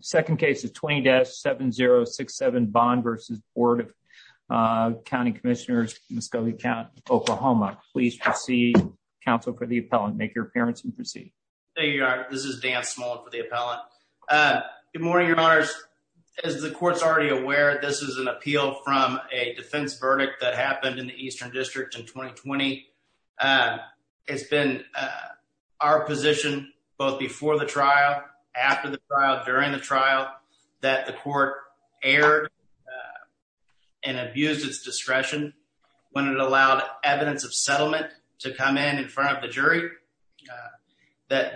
Second case is 20-7067 Bond v. Board of County Commissioners, Muskogee County, Oklahoma. Please proceed, counsel, for the appellant. Make your appearance and proceed. Thank you, Your Honor. This is Dan Small for the appellant. Good morning, Your Honors. As the Court's already aware, this is an appeal from a defense verdict that happened in the Eastern District in 2020. It's been our position, both before the trial, after the trial, during the trial, that the court erred and abused its discretion when it allowed evidence of settlement to come in in front of the jury.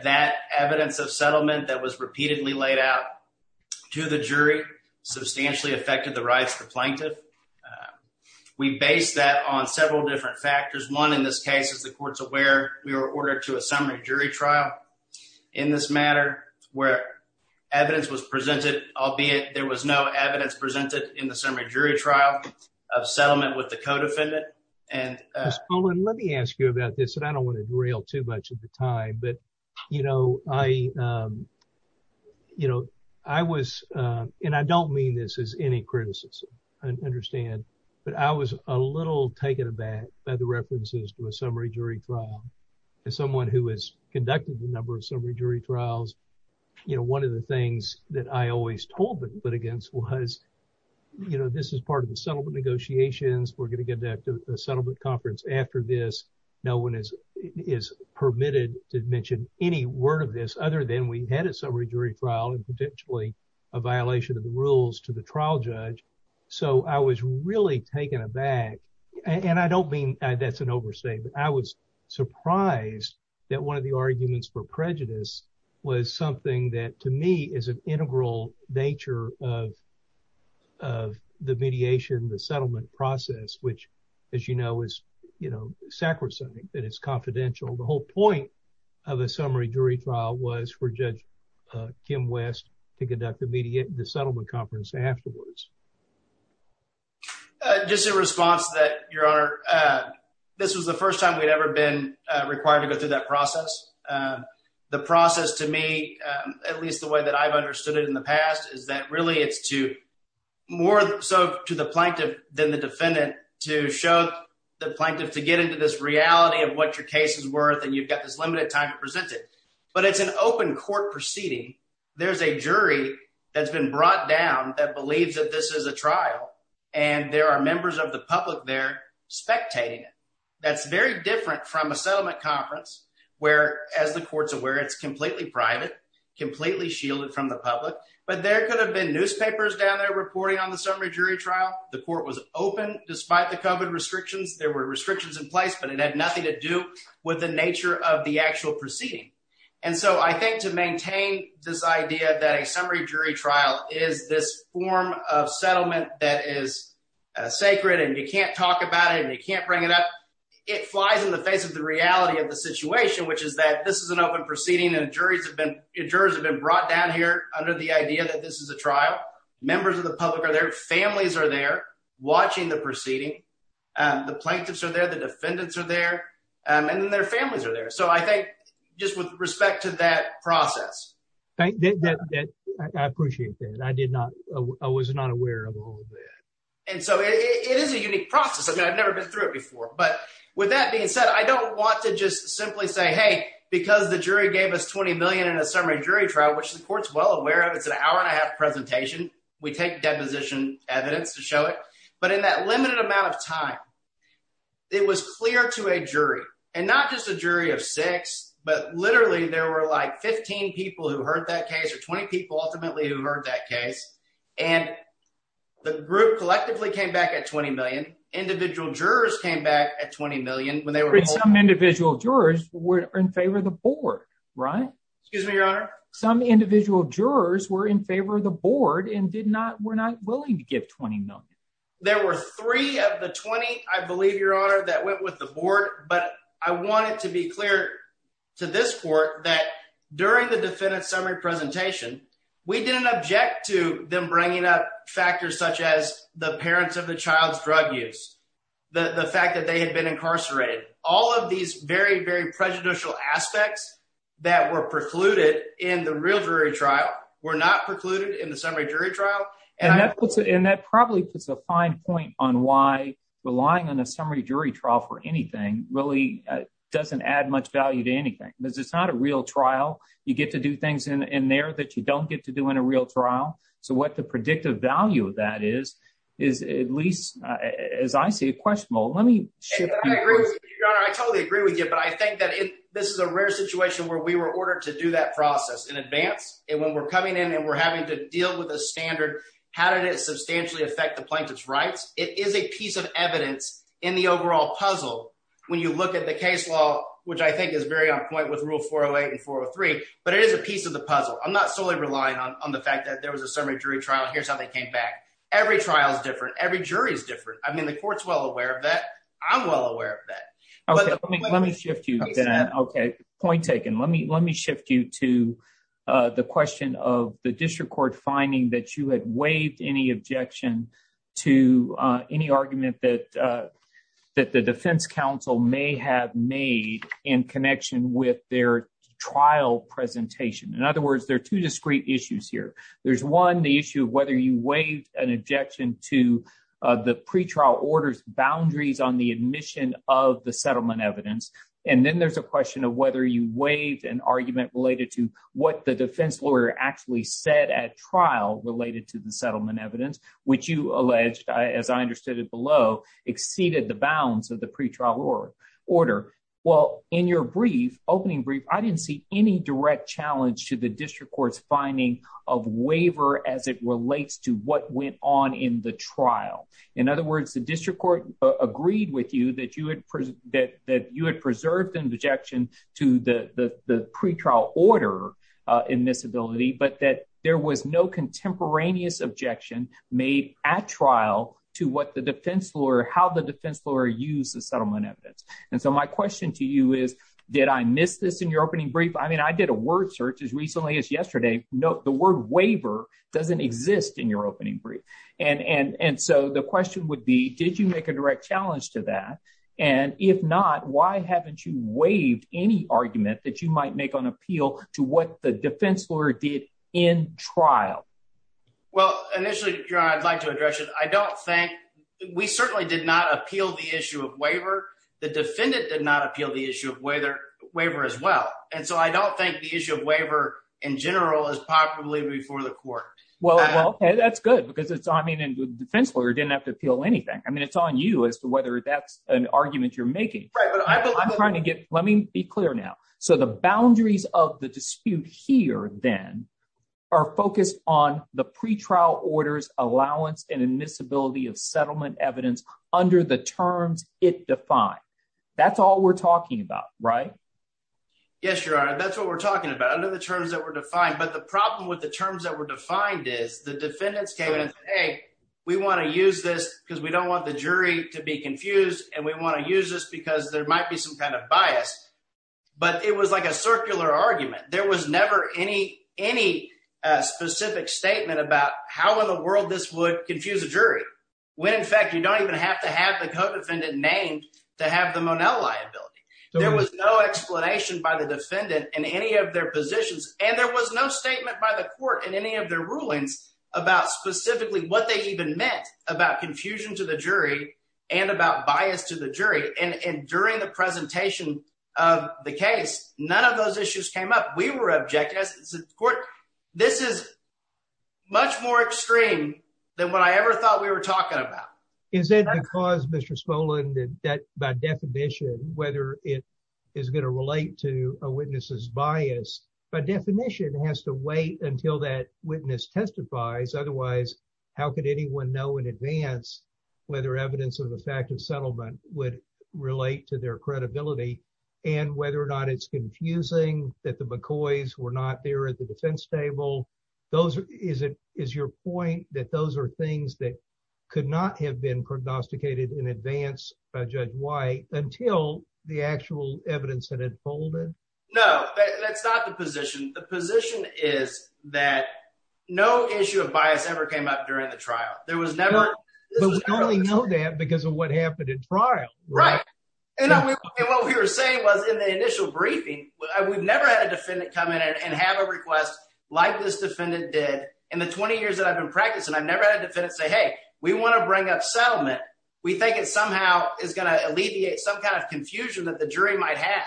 That evidence of settlement that was repeatedly laid out to the jury substantially affected the rights of the plaintiff. We based that on several different factors. One, in this case, as the Court's aware, we were ordered to a summary jury trial in this matter where evidence was presented, albeit there was no evidence presented in the summary jury trial of settlement with the co-defendant. Ms. Pullen, let me ask you about this, and I don't want to derail too much of the time, but, you know, I, you know, I was, and I don't mean this as any criticism, I understand, but I was a little taken aback by the references to a summary jury trial. As someone who has conducted a number of summary jury trials, you know, one of the things that I always told the litigants was, you know, this is part of the settlement negotiations. We're going to get a settlement conference after this. No one is permitted to mention any word of this other than we had a summary jury trial and potentially a violation of the rules to the trial judge. So, I was really taken aback, and I don't mean that's an overstatement. I was surprised that one of the arguments for prejudice was something that, to me, is an integral nature of of the mediation, the settlement process, which, as you know, is, you know, sacrosanct, that it's confidential. The whole point of a summary jury trial was for Judge Kim West to conduct the settlement conference afterwards. Just in response to that, Your Honor, this was the first time we'd ever been required to go through that process. The process, to me, at least the way that I've understood it in the past, is that really it's to more so to the plaintiff than the defendant to show the plaintiff to get into this reality of what your case is worth, and you've got this limited time to present it. But it's an open court proceeding. There's a jury that's been brought down that believes that this is a trial, and there are members of the public there spectating it. That's very different from a settlement conference where, as the court's aware, it's completely private, completely shielded from the public. But there could have been newspapers down there reporting on the summary jury trial. The court was open despite the COVID restrictions. There were restrictions in place, but it had nothing to do with the nature of the actual proceeding. And so I think to maintain this idea that a summary jury trial is this form of settlement that is sacred, and you can't talk about it, and you can't bring it up, it flies in the face of the reality of the situation, which is that this is an open proceeding, and jurors have been brought down here under the idea that this is a trial. Members of the public are there. Families are there watching the proceeding. The plaintiffs are there. The defendants are there. And their families are there. So I think just with respect to that process. I appreciate that. I was not aware of all of that. And so it is a unique process. I've never been through it before. But with that being said, I don't want to just simply say, hey, because the jury gave us $20 million in a summary jury trial, which the court's well aware of. It's an hour and a half presentation. We take deposition evidence to show it. But in that limited amount of time, it was clear to a jury, and not just a jury of six, but literally there were like 15 people who heard that case or 20 people ultimately who heard that case. And the group collectively came back at $20 million. Individual jurors came back at $20 million. Some individual jurors were in favor of the board, right? Excuse me, Your Honor. Some individual jurors were in favor of the board and were not willing to give $20 million. There were three of the 20, I believe, Your Honor, that went with the board. But I wanted to be clear to this court that during the defendant's summary presentation, we didn't object to them being incarcerated. All of these very, very prejudicial aspects that were precluded in the real jury trial were not precluded in the summary jury trial. And that probably puts a fine point on why relying on a summary jury trial for anything really doesn't add much value to anything. Because it's not a real trial. You get to do things in there that you don't get to do in a real trial. So what the predictive value of that is, is at least, as I see it, let me shift gears. I totally agree with you. But I think that this is a rare situation where we were ordered to do that process in advance. And when we're coming in and we're having to deal with a standard, how did it substantially affect the plaintiff's rights? It is a piece of evidence in the overall puzzle when you look at the case law, which I think is very on point with Rule 408 and 403. But it is a piece of the puzzle. I'm not solely relying on the fact that there was a summary jury trial. Here's how they came back. Every trial is different. Every jury is different. The court's well aware of that. I'm well aware of that. Let me shift you. Point taken. Let me shift you to the question of the district court finding that you had waived any objection to any argument that the defense counsel may have made in connection with their trial presentation. In other words, there are two discrete issues here. There's one, whether you waived an objection to the pretrial order's boundaries on the admission of the settlement evidence. And then there's a question of whether you waived an argument related to what the defense lawyer actually said at trial related to the settlement evidence, which you alleged, as I understood it below, exceeded the bounds of the pretrial order. Well, in your opening brief, I didn't see any direct challenge to the district court's finding of waiver as it relates to what went on in the trial. In other words, the district court agreed with you that you had preserved an objection to the pretrial order in this ability, but that there was no contemporaneous objection made at trial to how the defense lawyer used the settlement evidence. And so my question to you is, did I miss this in your opening brief? I mean, as recently as yesterday, the word waiver doesn't exist in your opening brief. And so the question would be, did you make a direct challenge to that? And if not, why haven't you waived any argument that you might make on appeal to what the defense lawyer did in trial? Well, initially, I'd like to address it. We certainly did not appeal the issue of waiver. The defendant did not appeal the issue of waiver as well. And so I don't think the issue of waiver in general is popularly before the court. Well, that's good because it's, I mean, the defense lawyer didn't have to appeal anything. I mean, it's on you as to whether that's an argument you're making. I'm trying to get, let me be clear now. So the boundaries of the dispute here then are focused on the pretrial order's allowance and admissibility of settlement evidence under the terms it defined. That's all we're talking about, right? Yes, Your Honor. That's what we're talking about, under the terms that were defined. But the problem with the terms that were defined is the defendants came in and said, hey, we want to use this because we don't want the jury to be confused. And we want to use this because there might be some kind of bias. But it was like a circular argument. There was never any specific statement about how in the don't even have to have the codefendant named to have the Monell liability. There was no explanation by the defendant in any of their positions. And there was no statement by the court in any of their rulings about specifically what they even meant about confusion to the jury and about bias to the jury. And during the presentation of the case, none of those issues came up. We were objective. This is much more extreme than what I ever thought we were talking about. Is that because, Mr. Spolin, that by definition, whether it is going to relate to a witness's bias, by definition, has to wait until that witness testifies. Otherwise, how could anyone know in advance whether evidence of the fact of settlement would relate to their credibility and whether or not it's confusing that the McCoys were not there at the defense table? Those are is it is your point that those are things that could not have been prognosticated in advance by Judge White until the actual evidence had unfolded? No, that's not the position. The position is that no issue of bias ever came up during the trial. There was never that because of what happened in trial. Right. And what we were saying was in the initial briefing, we've never had a defendant come in and have a request like this defendant did in the 20 years that I've been practicing. I've never had a defendant say, hey, we want to bring up settlement. We think it somehow is going to alleviate some kind of confusion that the jury might have.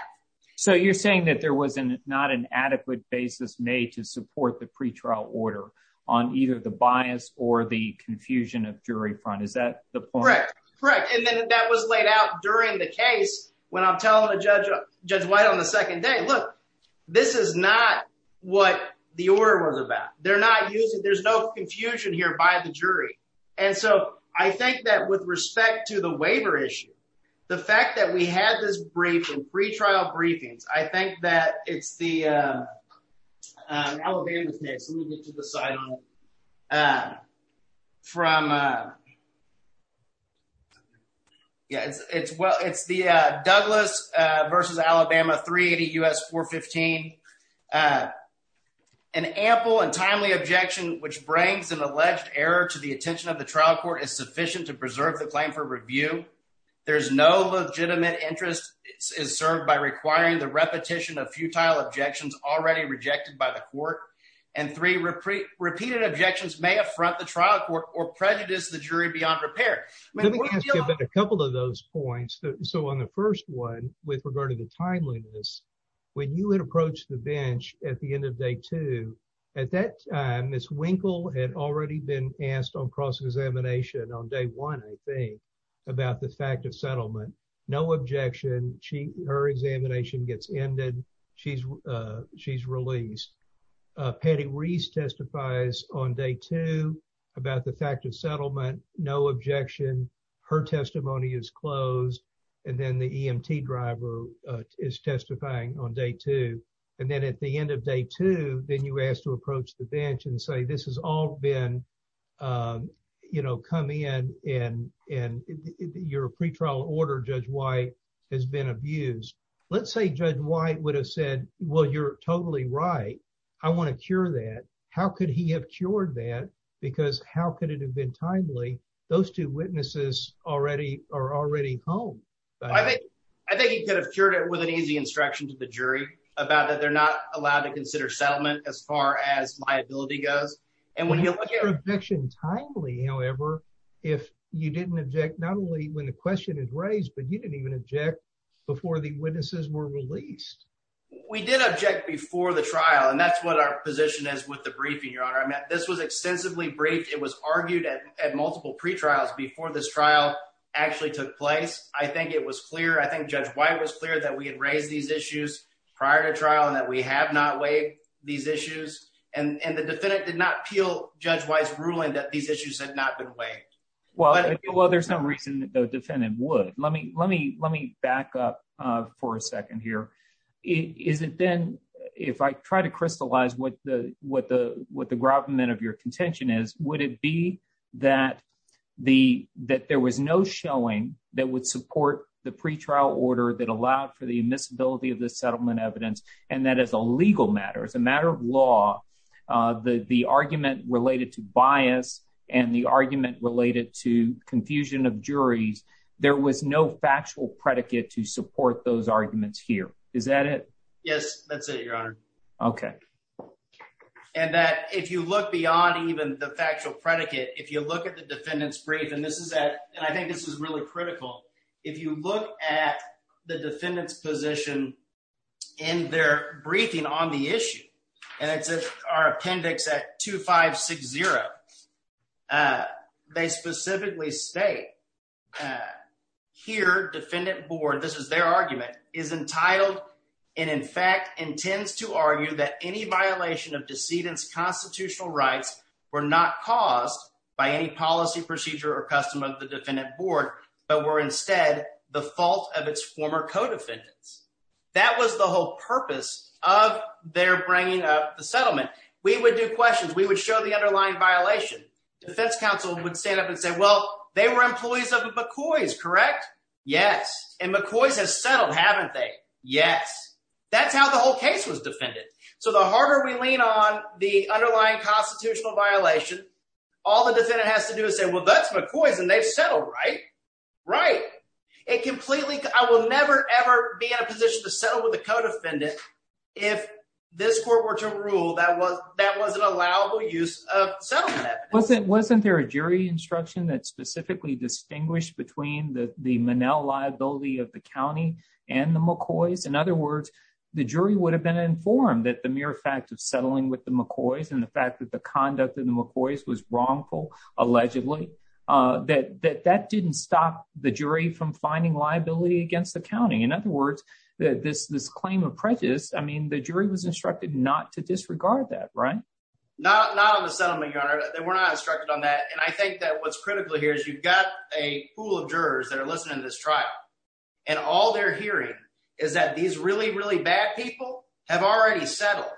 So you're saying that there was not an adequate basis made to support the pretrial order on either the bias or the confusion of jury front. Is that correct? Correct. And then that was laid out during the case when I'm telling the judge, Judge White, on the second day, look, this is not what the order was about. They're not using there's no confusion here by the jury. And so I think that with respect to the waiver issue, the fact that we had this brief and pretrial briefings, I think that it's the Alabama case. Let me get to the side from. Yes, it's well, it's the Douglas versus Alabama 380 US 415. An ample and timely objection, which brings an alleged error to the attention of the trial court is sufficient to preserve the claim for review. There's no legitimate interest is served by requiring the repetition of futile objections already rejected by the court and three repeated objections may affront the trial court or prejudice the jury beyond repair. Let me ask you about a couple of those points. So on the first one, with regard to the timeliness, when you would approach the bench at the end of day two, at that time, Miss Winkle had already been asked on cross-examination on day one, I think, about the fact of settlement, no objection, she her examination gets ended. She's, she's released. Patty Reese testifies on day two, about the fact of settlement, no objection. Her testimony is closed. And then the EMT driver is testifying on day two. And then at the end of day two, then you asked to approach the bench and say, this has all been, you know, come in and, and your pretrial order, Judge White has been abused. Let's say Judge White would have said, well, you're totally right. I want to cure that. How could he have cured that? Because how could it have been timely? Those two witnesses already are already home. I think he could have cured it with an easy instruction to the jury about that they're not allowed to consider settlement as far as liability goes. And when you look at objection timely, however, if you didn't object, not only when the question is raised, but you didn't even object before the witnesses were released. We did object before the trial. And that's what our position is with the briefing, Your Honor. I mean, this was extensively briefed. It was argued at multiple pretrials before this trial actually took place. I think it was clear. I think Judge White was clear that we had raised these issues prior to trial and that we have not waived these issues. And the defendant did not appeal Judge White's ruling that these issues had not been waived. Well, there's no reason that the defendant would. Let me back up for a second here. Is it then, if I try to crystallize what the gravamen of your contention is, would it be that there was no showing that would support the pretrial order that allowed for the admissibility of the settlement evidence, and that as a legal matter, as a matter of law, the argument related to bias and the argument related to confusion of juries, there was no factual predicate to support those arguments here. Is that it? Yes, that's it, Your Honor. Okay. And that if you look beyond even the factual predicate, if you look at the defendant's brief, and this is that, and I think this is really critical, if you look at the defendant's position in their briefing on the issue, and it's our appendix at 2560, they specifically state here, defendant board, this is their argument, is entitled and in fact intends to argue that any violation of decedent's constitutional rights were not caused by any policy procedure or custom of the defendant board, but were instead the fault of its former co-defendants. That was the whole purpose of their bringing up the settlement. We would do questions. We would show the underlying violation. Defense counsel would stand up and say, well, they were employees of McCoy's, correct? Yes. And McCoy's has settled, haven't they? Yes. That's how the whole case was defended. So the harder we lean on the underlying constitutional violation, all the defendant has to do is say, well, that's McCoy's and they've settled, right? Right. It completely, I will never, ever be in a position to settle with the co-defendant if this court were to rule that was an allowable use of settlement evidence. Wasn't there a jury instruction that specifically distinguished between the Monell liability of the county and the McCoy's? In other words, the jury would have been informed that the mere fact of the conduct in the McCoy's was wrongful, allegedly, that that didn't stop the jury from finding liability against the county. In other words, this claim of prejudice, I mean, the jury was instructed not to disregard that, right? Not on the settlement, your honor. They were not instructed on that. And I think that what's critical here is you've got a pool of jurors that are listening to this trial and all they're hearing is that these really, really bad people have already settled.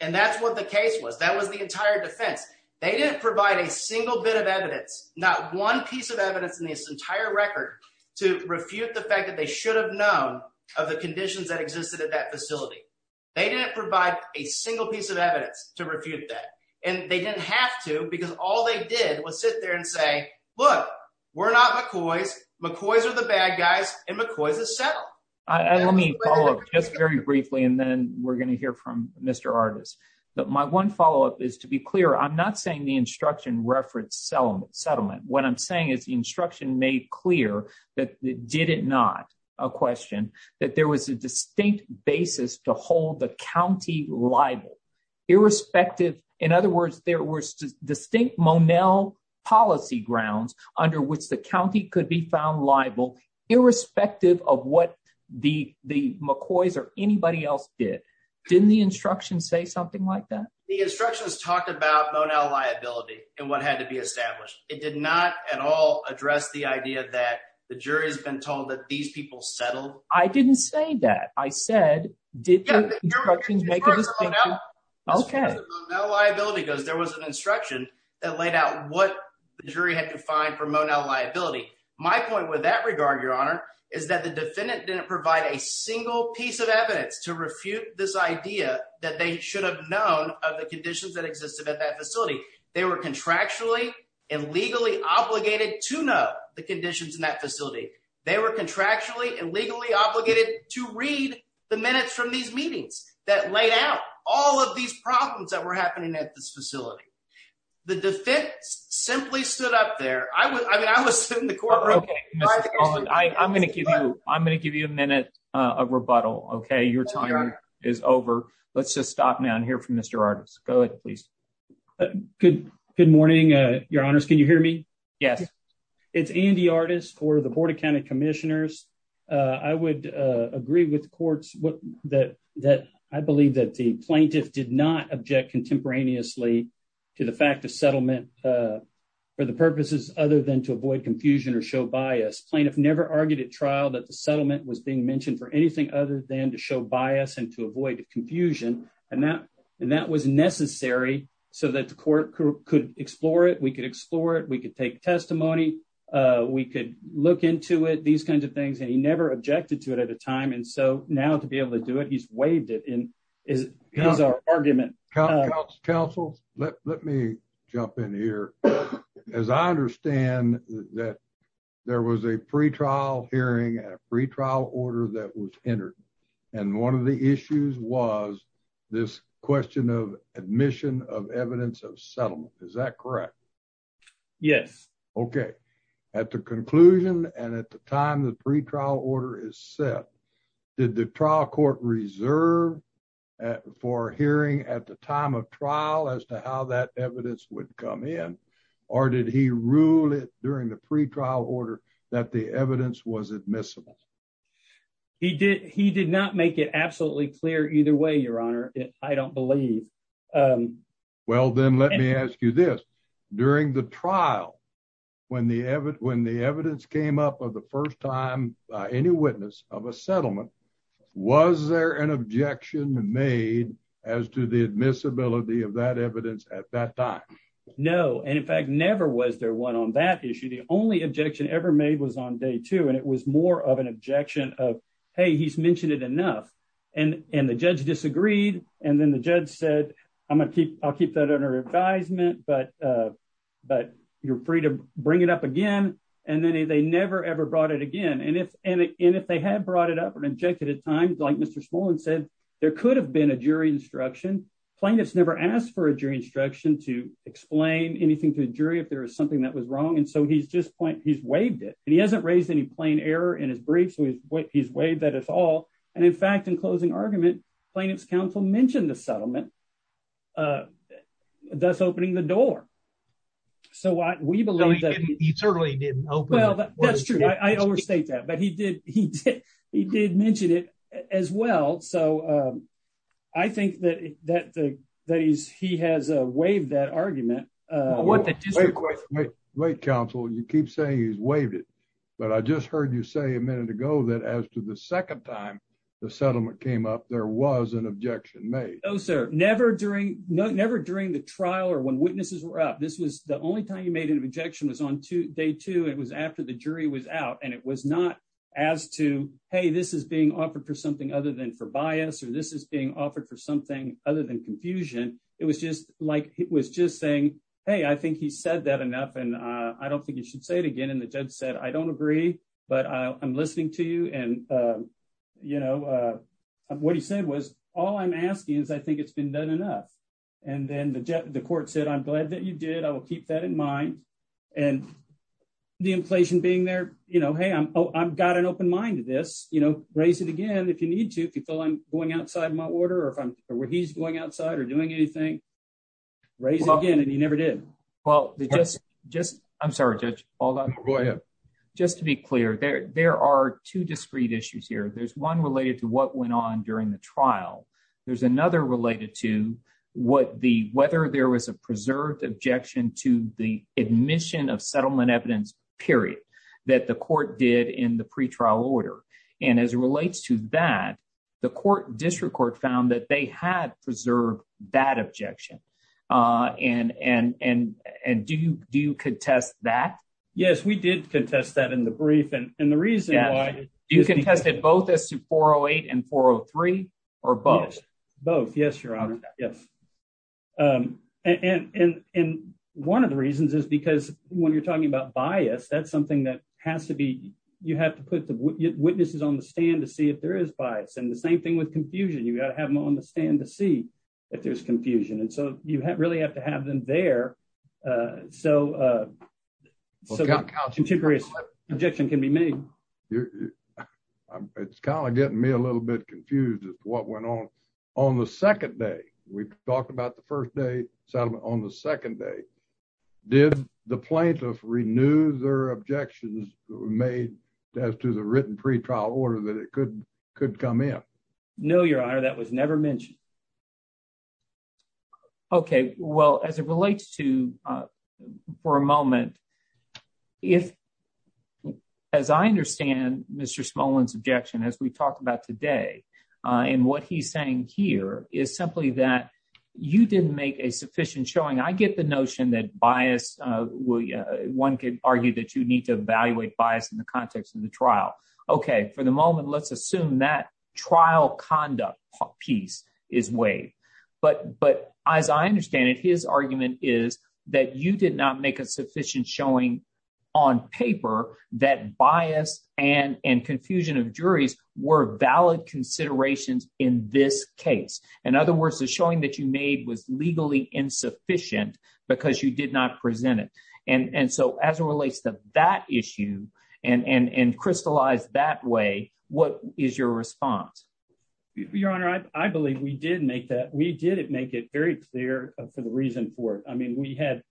And that's what the case was. That was the entire defense. They didn't provide a single bit of evidence, not one piece of evidence in this entire record to refute the fact that they should have known of the conditions that existed at that facility. They didn't provide a single piece of evidence to refute that. And they didn't have to, because all they did was sit there and say, look, we're not McCoy's. McCoy's are the bad guys and McCoy's has settled. Let me follow up just very briefly and then we're going to hear from Mr. Artis. But my one follow-up is to be clear, I'm not saying the instruction referenced settlement. What I'm saying is the instruction made clear that it did it not, a question, that there was a distinct basis to hold the county liable, irrespective, in other words, there were distinct Monell policy grounds under which the county could be found liable, irrespective of what the McCoy's or anybody else did. Didn't the instruction say something like that? The instructions talked about Monell liability and what had to be established. It did not at all address the idea that the jury's been told that these people settled. I didn't say that. I said, did the instructions make a distinction? Okay. As far as the Monell liability goes, there was an instruction that laid out what the jury had to find for Monell liability. My point with that regard, your honor, is that the defendant didn't provide a single piece of evidence to refute this idea that they should have known of the conditions that existed at that facility. They were contractually and legally obligated to know the conditions in that facility. They were contractually and legally obligated to read the minutes from these meetings that laid out all of these problems that were happening at this facility. The defense simply stood up there. I mean, I was sitting in the courtroom. I'm going to give you a minute of rebuttal, okay? Your time is over. Let's just stop now and hear from Mr. Artis. Go ahead, please. Good morning, your honors. Can you hear me? Yes. It's Andy Artis for the Board of County Commissioners. I would agree with courts that I believe that the plaintiff did not object contemporaneously to the fact of settlement for the purposes other than to avoid confusion or show bias. Plaintiff never argued at trial that the settlement was being mentioned for anything other than to show bias and to avoid confusion. And that was necessary so that the court could explore it. We could explore it. We could take testimony. We could look into it, these kinds of things. And he never objected to it at a time. And so now to be able to do it, he's waived it. And here's our argument. Counsel, let me jump in here. As I understand that there was a pretrial hearing and a pretrial order that was entered. And one of the issues was this question of admission of evidence of settlement. Is that correct? Yes. Okay. At the conclusion and at the time the pretrial order is set, did the trial court reserve for hearing at the time of trial as to how that evidence would come in? Or did he rule it during the pretrial order that the evidence was admissible? He did not make it absolutely clear either way, Your Honor. I don't believe. Well, then let me ask you this. During the trial, when the evidence came up of the first time any witness of a settlement, was there an objection made as to the admissibility of that evidence at that time? No. And in fact, never was there one on that issue. The only objection ever made was on day two. And it was more of an objection of, hey, he's mentioned it enough. And the judge disagreed. And then the judge said, I'll keep that under advisement, but you're free to bring it up again. And then they never, ever brought it again. And if they had brought it up and objected at times, like Mr. Smolin said, there could have been a jury instruction. Plaintiffs never asked for a jury instruction to explain anything to the jury if there was something that was wrong. And so he's waived it. And he hasn't raised any plain error in his brief. So he's waived that at all. And in fact, in closing argument, plaintiff's counsel mentioned the settlement, thus opening the door. So we believe that- He certainly didn't open- Well, that's true. I overstate that. But he did mention it as well. So I think that he has waived that argument. Wait, counsel, you keep saying he's waived it. But I just heard you say a minute ago that as to the second time the settlement came up, there was an objection made. Never during the trial or when witnesses were up. The only time you made an objection was on day two. It was after the jury was out. And it was not as to, hey, this is being offered for something other than for bias, or this is being offered for something other than confusion. It was just saying, hey, I think he said that enough. And I don't think you should say it again. And the judge said, I don't agree, but I'm listening to you. And what he said was, all I'm asking is, I think it's been done enough. And then the court said, I'm glad that you did. I will keep that in mind. And the inflation being there, hey, I've got an open mind to this. Raise it again if you need to, if you feel I'm going outside my order, or where he's going outside or doing anything. Raise it again, and he never did. Well, just- I'm sorry, Judge. Hold on. Go ahead. Just to be clear, there are two discrete issues here. There's one related to what went on during the trial. There's another related to whether there was a preserved objection to the admission of settlement evidence, period, that the court did in the pretrial order. And as it relates to that, the district court found that they had preserved that objection. And do you contest that? Yes, we did contest that in the brief. And the reason why- You contested both as to 408 and 403, or both? Yes, both. Yes, Your Honor. Yes. And one of the reasons is because when you're talking about bias, that's something that has to be- you have to put witnesses on the stand to see if there is bias. And the same thing with confusion. You've got to have them on the stand to see if there's confusion. And so you really have to have them there so a contemporary objection can be made. It's kind of getting me a little bit confused as to what went on. On the second day, we talked about the first day settlement. On the second day, did the plaintiff renew their objections made as to the written pretrial order that it could come in? No, Your Honor, that was never mentioned. Okay, well, as it relates to, for a moment, if- as I understand Mr. Smolin's objection, as we talked about today, and what he's saying here is simply that you didn't make a sufficient showing. I get the notion that bias- one could argue that you need to evaluate bias in the trial conduct piece is waived. But as I understand it, his argument is that you did not make a sufficient showing on paper that bias and confusion of juries were valid considerations in this case. In other words, the showing that you made was legally insufficient because you did not present it. And so as it relates to that issue and crystallized that way, what is your response? Your Honor, I believe we did make that- we did make it very clear for the reason for it. I mean, we had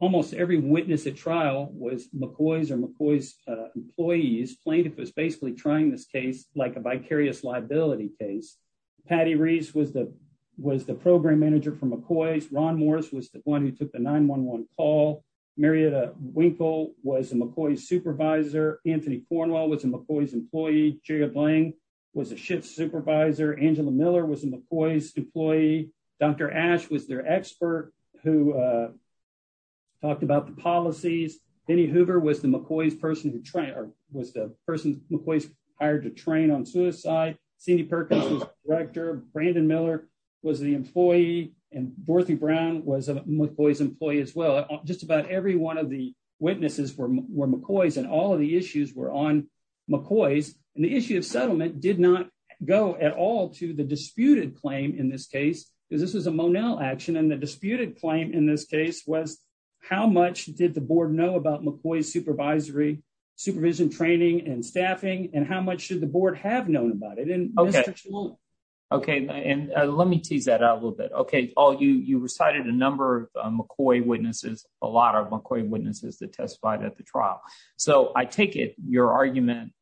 almost every witness at trial was McCoy's or McCoy's employees. Plaintiff was basically trying this case like a vicarious liability case. Patty Reese was the- was the program manager for McCoy's. Ron Morris was the one who took the 911 call. Marietta Winkle was a McCoy's supervisor. Anthony Cornwell was a McCoy's employee. J. Ed Lang was a shift supervisor. Angela Miller was a McCoy's employee. Dr. Ash was their expert who talked about the policies. Denny Hoover was the McCoy's person who- or was the person McCoy's hired to train on suicide. Cindy Perkins was director. Brandon Miller was the employee. And Dorothy Brown was a McCoy's employee as well. Just about every one of the witnesses were McCoy's and all of the issues were on McCoy's. And the issue of settlement did not go at all to the disputed claim in this case because this was a Monell action. And the disputed claim in this case was how much did the board know about McCoy's supervisory- supervision training and staffing and how much should the board have known about it? Okay. Okay. And let me tease that out a little bit. Okay. All you- you recited a number of McCoy witnesses, a lot of McCoy witnesses that testified at the trial. So I take it your argument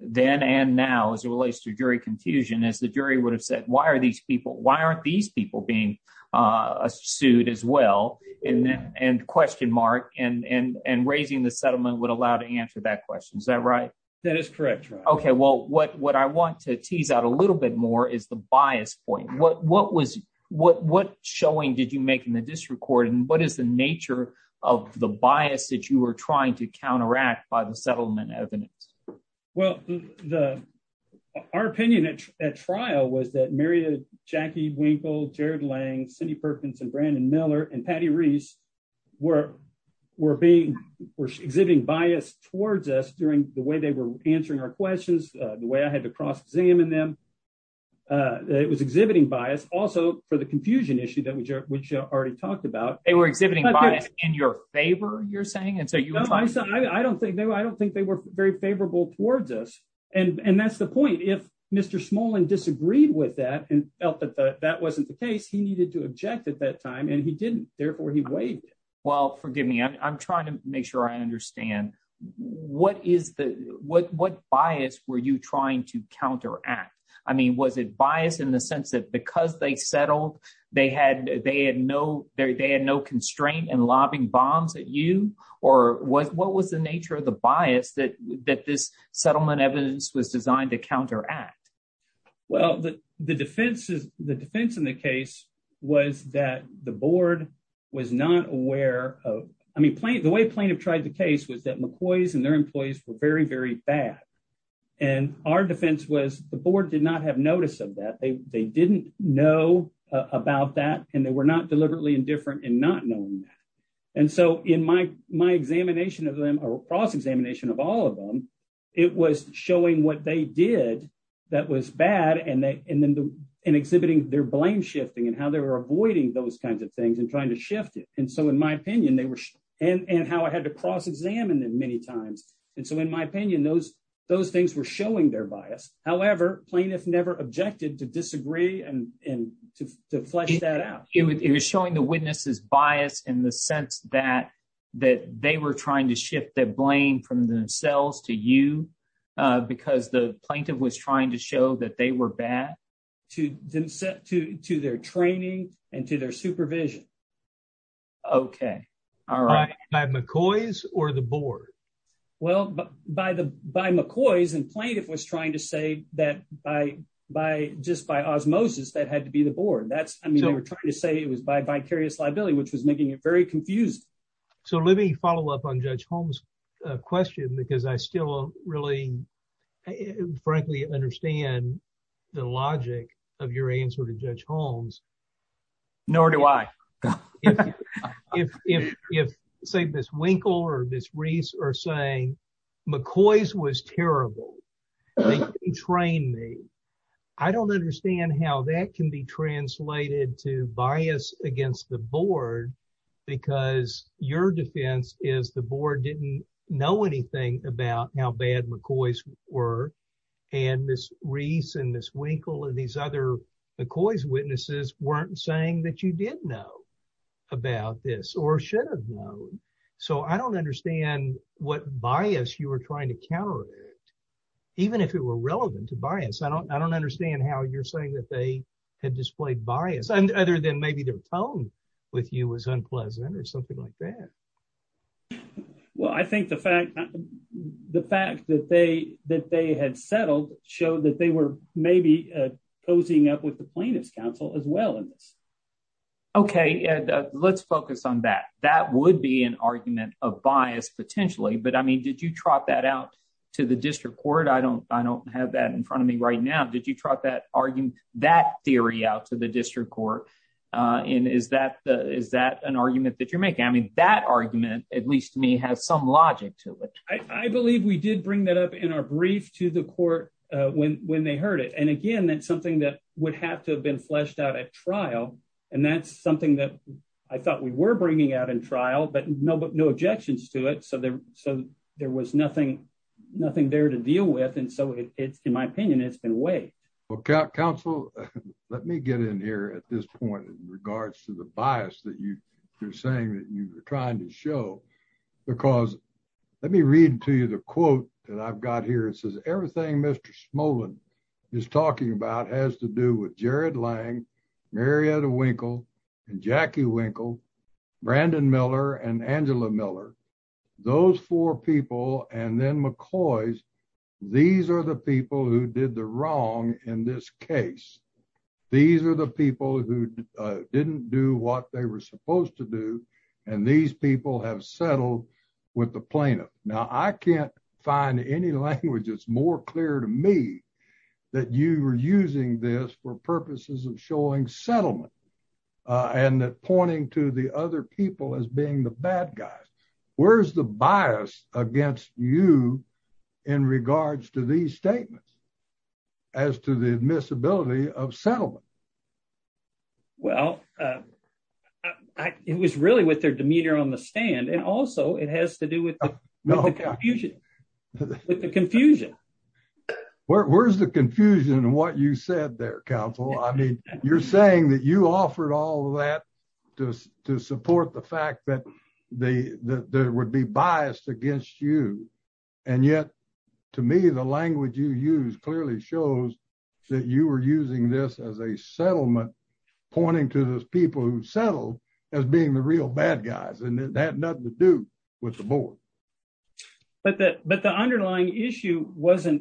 then and now as it relates to jury confusion is the jury would have said, why are these people- why aren't these people being sued as well? And- and question mark and- and- and raising the settlement would allow to answer that question. Is that right? That is correct. Okay. Well, what- what I want to tease out a little bit more is the bias point. What- what was- what- what showing did you make in the district court? And what is the nature of the bias that you were trying to counteract by the settlement evidence? Well, the- our opinion at- at trial was that Marietta, Jackie Winkle, Jared Lang, Cindy Perkins, and Brandon Miller, and Patty Reese were- were being- were exhibiting bias towards us during the way they were answering our questions, the way I had to cross-examine them. It was exhibiting bias also for the confusion issue that we- which I already talked about. They were exhibiting bias in your favor, you're saying? And so you- No, I- I don't think- I don't think they were very favorable towards us. And- and that's the point. If Mr. Smolin disagreed with that and felt that that wasn't the case, he needed to object at that time and he didn't. Therefore, he waived it. Well, forgive me. I'm trying to make sure I understand. What is the- what- what bias were you trying to counteract? I mean, was it bias in the sense that because they settled, they had- they had no- they had no constraint in lobbing bombs at you? Or was- what was the nature of the bias that- that this settlement evidence was designed to counteract? Well, the- the defense is- the defense in the case was that the board was not aware of- I mean, plaint- the way plaintiff tried the case was that McCoy's and their employees were very, very bad. And our defense was the board did not have notice of that. They- they didn't know about that and they were not deliberately indifferent in not knowing that. And so in my- my examination of them or cross-examination of all of them, it was showing what they did that was bad and they- and then the- and exhibiting their blame-shifting and how they were avoiding those kinds of things and trying to shift it. And so in my opinion, they were- and- and how I had to cross-examine them many times. And so in my opinion, those- those things were showing their bias. However, plaintiff never objected to disagree and- and to- to flesh that out. It was showing the witness's bias in the sense that- that they were trying to shift the blame from themselves to you because the plaintiff was trying to show that they were bad to them- to- to their training and to their supervision. Okay. All right. By McCoy's or the board? Well, by the- by McCoy's and plaintiff was trying to say that by- by- just by osmosis, that had to be the board. That's- I mean, they were trying to say it was by vicarious liability, which was making it very confusing. So let me follow up on Judge Holmes' question because I still really, frankly, understand the logic of your answer to Judge Holmes. Nor do I. If- if- if, say, Ms. Winkle or Ms. Reese are saying, McCoy's was terrible. They didn't train me. I don't understand how that can be translated to bias against the board because your defense is the board didn't know anything about how bad McCoy's were and Ms. Reese and Ms. Winkle and these other McCoy's witnesses weren't saying that you did know about this or should have known. So I don't understand what bias you were trying to counteract, even if it were relevant to bias. I don't- I don't understand how you're saying that they had displayed bias, other than maybe their tone with you was unpleasant or something like that. Well, I think the fact- the fact that they- that they had settled showed that they were maybe posing up with the plaintiff's counsel as well in this. Okay, and let's focus on that. That would be an argument of bias, potentially. But, I mean, did you trot that out to the district court? I don't- I don't have that in front of me right now. Did you trot that argument- that theory out to the district court? And is that- is that an argument that you're making? I mean, that argument, at least to me, has some logic to it. I believe we did bring that up in our brief to the court when- when they heard it. And, again, that's something that would have to have been fleshed out at trial. And that's something that I thought we were bringing out in trial, but no- but no objections to it. So there- so there was nothing- nothing there to deal with. And so it's- in my opinion, it's been weighed. Well, counsel, let me get in here at this point in regards to the bias that you- you're saying that you were trying to show. Because let me read to you the quote that I've got here. It says, everything Mr. Smolin is talking about has to do with Jared Lang, Marietta Winkle, and Jackie Winkle, Brandon Miller, and Angela Miller. Those four people, and then McCloy's, these are the people who did the wrong in this case. These are the people who didn't do what they were supposed to do, and these people have settled with the plaintiff. Now, I can't find any language that's more clear to me that you were using this for purposes of showing settlement and pointing to the other people as being the bad guys. Where's the bias against you in regards to these statements as to the admissibility of settlement? Well, it was really with their demeanor on the stand, and also it has to do with the confusion. With the confusion. Where's the confusion in what you said there, counsel? I mean, you're saying that you offered all of that to support the fact that they would be biased against you, and yet, to me, the language you use clearly shows that you were using this as a settlement, pointing to those people who settled as being the real bad guys, and it had nothing to do with the board. But the underlying issue was not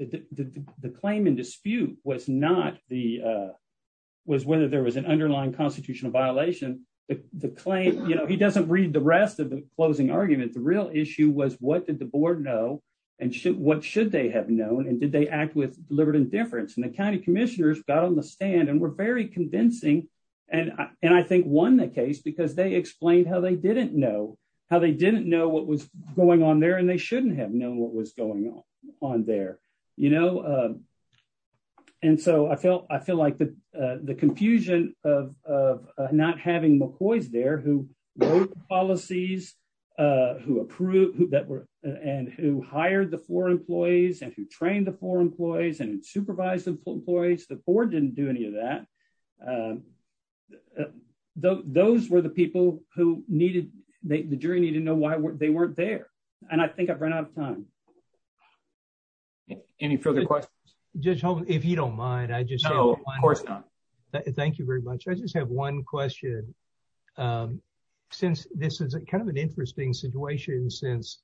the claim in dispute, was whether there was an underlying constitutional violation. He doesn't read the rest of the closing argument. The real issue was what did the board know, and what should they have known, and did they act with deliberate indifference? And the county commissioners got on the stand and were very convincing, and I think won the case because they explained how they didn't know what was going on there, and they shouldn't have known what was going on there. And so, I feel like the confusion of not having McCoy's there, who wrote the policies, and who hired the four employees, and who trained the four employees, and who supervised the employees, the board didn't do any of that. Those were the people who needed, the jury needed to know why they weren't there, and I think I've run out of time. Any further questions? Judge Holman, if you don't mind, I just have one. No, of course not. Thank you very much. I just have one question. Since this is kind of an interesting situation, since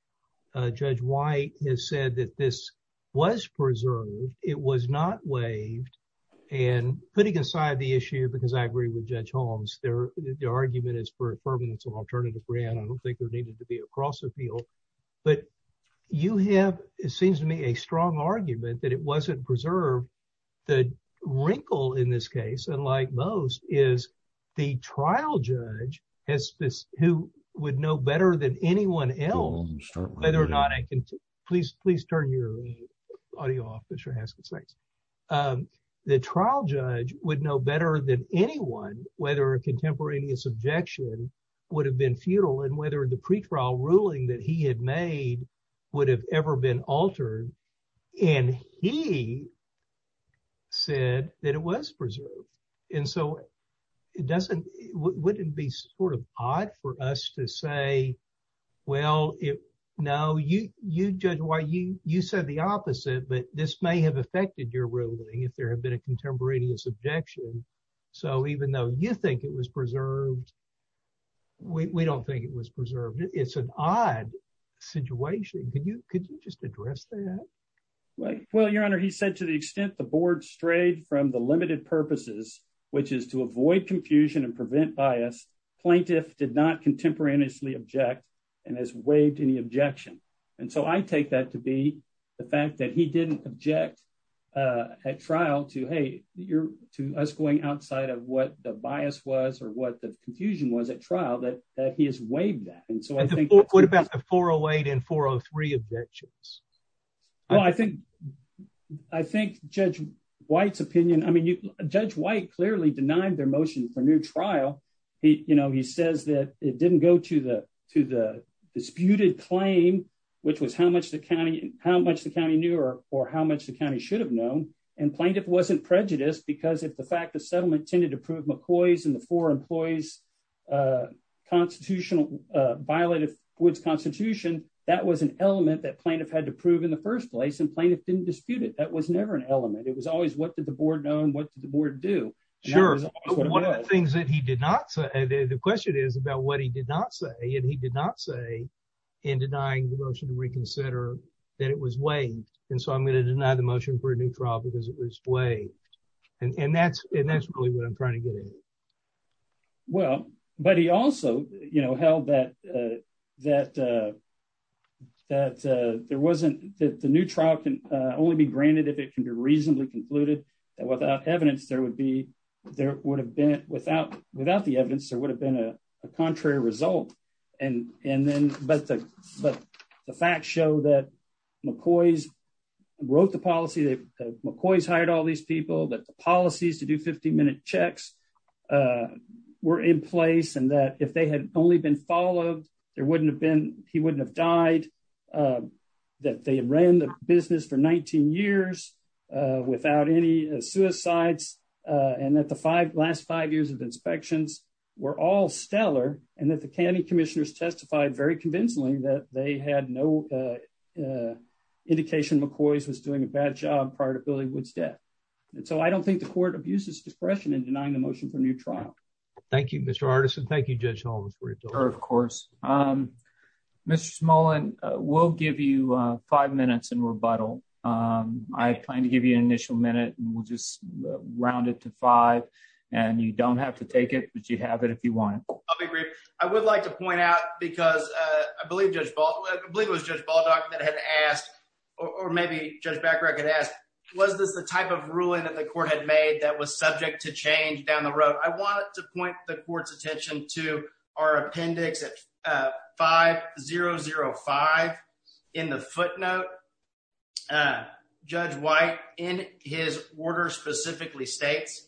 Judge White has said that this was not waived, and putting aside the issue, because I agree with Judge Holmes, the argument is for a permanence of alternative grant. I don't think there needed to be a cross-appeal, but you have, it seems to me, a strong argument that it wasn't preserved. The wrinkle in this case, unlike most, is the trial judge has, who would know better than anyone else, whether or please turn your audio off, Mr. Haskins, thanks. The trial judge would know better than anyone whether a contemporaneous objection would have been futile, and whether the pretrial ruling that he had made would have ever been altered, and he said that it was preserved, and so it doesn't, wouldn't it be sort of odd for us to say, well, no, you, Judge White, you said the opposite, but this may have affected your ruling if there had been a contemporaneous objection, so even though you think it was preserved, we don't think it was preserved. It's an odd situation. Could you just address that? Well, your honor, he said to the extent the board strayed from the limited purposes, which is to avoid confusion and prevent bias, plaintiff did not contemporaneously object and has waived any objection, and so I take that to be the fact that he didn't object at trial to, hey, you're, to us going outside of what the bias was or what the confusion was at trial, that he has waived that, and so I think. What about the 408 and 403 objections? Well, I think, I think Judge White's opinion, I mean, you, Judge White clearly denied their motion for new trial. He, you know, he says that it didn't go to the, to the disputed claim, which was how much the county, how much the county knew or how much the county should have known, and plaintiff wasn't prejudiced because of the fact the settlement tended to prove McCoy's and constitutional, violated Wood's constitution. That was an element that plaintiff had to prove in the first place, and plaintiff didn't dispute it. That was never an element. It was always what did the board know and what did the board do. Sure. One of the things that he did not say, the question is about what he did not say, and he did not say in denying the motion to reconsider that it was waived, and so I'm going to deny the motion for a new trial because it was waived, and that's, and that's really what I'm trying to get at. Well, but he also, you know, held that, that, that there wasn't, that the new trial can only be granted if it can be reasonably concluded that without evidence there would be, there would have been, without, without the evidence, there would have been a contrary result, and, and then, but the, but the facts show that wrote the policy that McCoy's hired all these people, that the policies to do 15-minute checks were in place, and that if they had only been followed, there wouldn't have been, he wouldn't have died, that they ran the business for 19 years without any suicides, and that the five, last five years of inspections were all stellar, and that the county commissioners testified very convincingly that they had no indication McCoy's was doing a bad job prior to Billy Wood's death, and so I don't think the court abuses discretion in denying the motion for a new trial. Thank you, Mr. Artisan. Thank you, Judge Holmes for your time. Of course. Mr. Smolin, we'll give you five minutes in rebuttal. I plan to give you an initial minute, and we'll just round it to five, and you don't have to take it, but you have it if you want. I'll be brief. I would like to point out, because I believe Judge, I believe it was Judge Baldock that had asked, or maybe Judge Bacharach had asked, was this the type of ruling that the court had made that was subject to change down the road? I wanted to point the court's attention to our appendix at 5005 in the footnote. Judge White, in his order, specifically states,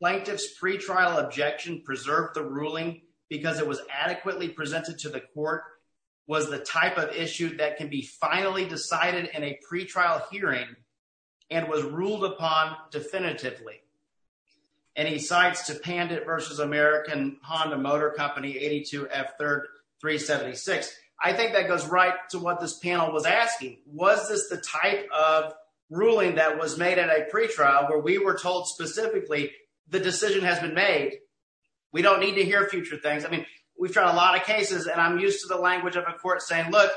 Plaintiff's pre-trial objection preserved the ruling because it was adequately presented to the court, was the type of issue that can be finally decided in a pre-trial hearing, and was ruled upon definitively. And he cites to Pandit versus American Honda Motor Company, 82F3rd376. I think that goes right to what this panel was asking. Was this the type of ruling that was made at a pre-trial where we were told specifically the decision has been made? We don't need to hear future things. I mean, we've tried a lot of cases, and I'm used to the language of a court saying, look,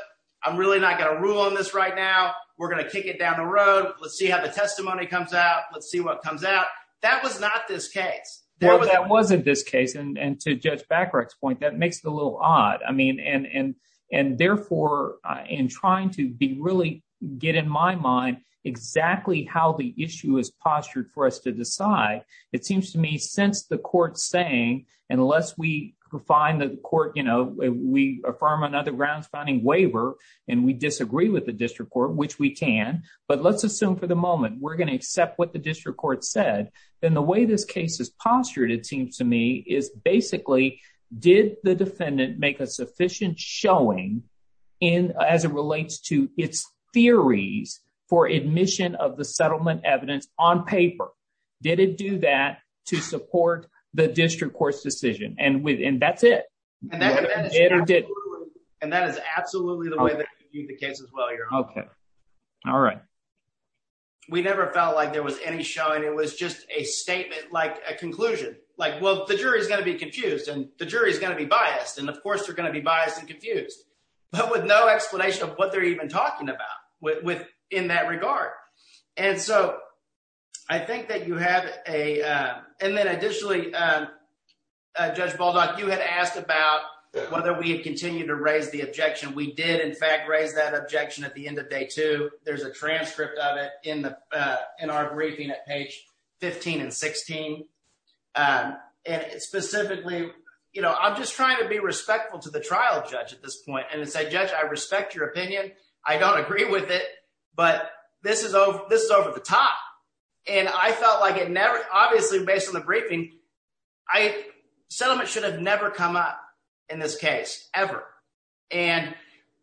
I'm really not going to rule on this right now. We're going to kick it down the road. Let's see how the testimony comes out. Let's see what comes out. That was not this case. Well, that wasn't this case, and to Judge Bacharach's point, that makes it a little how the issue is postured for us to decide. It seems to me, since the court's saying, unless we find that the court, you know, we affirm on other grounds finding waiver, and we disagree with the district court, which we can, but let's assume for the moment we're going to accept what the district court said, then the way this case is postured, it seems to me, is basically, did the defendant make a sufficient showing as it relates to its theories for admission of the settlement evidence on paper? Did it do that to support the district court's decision? And that's it. And that is absolutely the way to view the case as well, Your Honor. Okay. All right. We never felt like there was any showing. It was just a statement, like a conclusion. Like, well, the jury's going to be confused, and the jury's going to be biased, and of course, they're going to be biased and confused, but with no explanation of what they're even talking about in that regard. And so, I think that you have a... And then additionally, Judge Baldock, you had asked about whether we had continued to raise the objection. We did, in fact, raise that objection at the end of day two. There's a transcript of it in our briefing at page 15 and 16. And specifically, you know, I'm just trying to be respectful to the trial judge at this point, and to say, Judge, I respect your opinion. I don't agree with it, but this is over the top. And I felt like it never... Obviously, based on the briefing, settlement should have never come up in this case, ever. And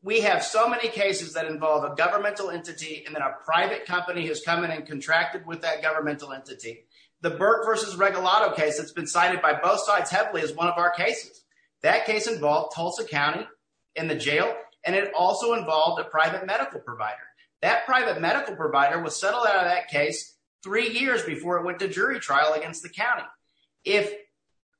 we have so many cases that involve a governmental entity, and then a private company has come in and contracted with that governmental entity. The Burke versus Regalado case that's been cited by both sides heavily is one of our cases. That case involved Tulsa County in the jail, and it also involved a private medical provider. That private medical provider was settled out of that case three years before it went to jury trial against the county. If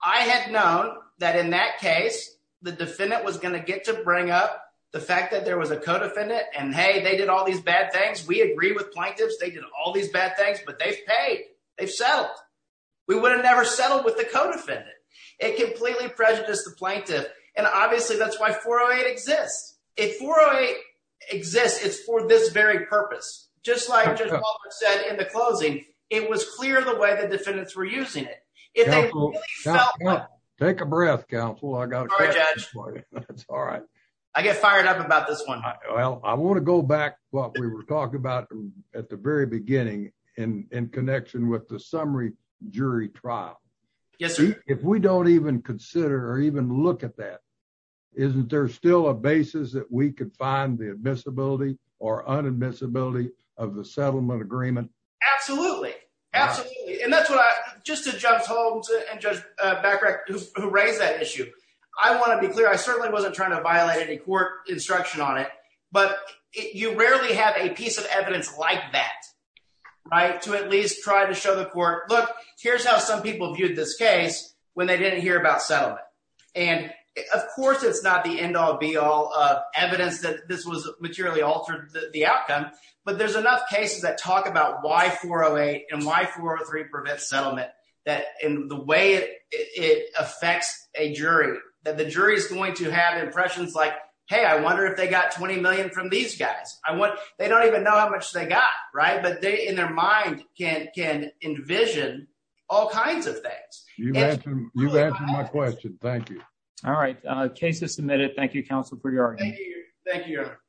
I had known that in that case, the defendant was going to get to bring up the fact that there was a co-defendant, and hey, they did all these bad things, we agree with plaintiffs, they did all these bad things, but they've paid, they've settled. We would have never settled with the co-defendant. It completely prejudiced the plaintiff. And obviously, that's why 408 exists. If 408 exists, it's for this very purpose. Just like Judge Walton said in the closing, it was clear the way the defendants were using it. If they really felt like... Take a breath, counsel. I got a question for you. That's all right. I get fired up about this one. Well, I want to go back to what we were talking about at the very beginning in connection with the summary jury trial. If we don't even consider or even look at that, isn't there still a basis that we could find the admissibility or unadmissibility of the settlement agreement? Absolutely. Absolutely. And that's what I... Just to Judge Holmes and Judge Becker, who raised that issue, I want to be clear. I certainly wasn't trying to violate any court instruction on it, but you rarely have a piece of evidence like that to at least try to show the court, look, here's how some people viewed this case when they didn't hear about settlement. And of course, it's not the end-all, be-all of evidence that this was materially altered the outcome, but there's enough cases that talk about why 408 and why 403 prevents settlement, that in the way it affects a jury, that the jury is going to have impressions like, hey, I wonder if they got 20 million from these guys. They don't even know how much they got, right? But they, in their mind, can envision all kinds of things. You've answered my question. Thank you. All right. Case is submitted. Thank you, Counsel Bregard. Thank you. Thank you, Your Honor.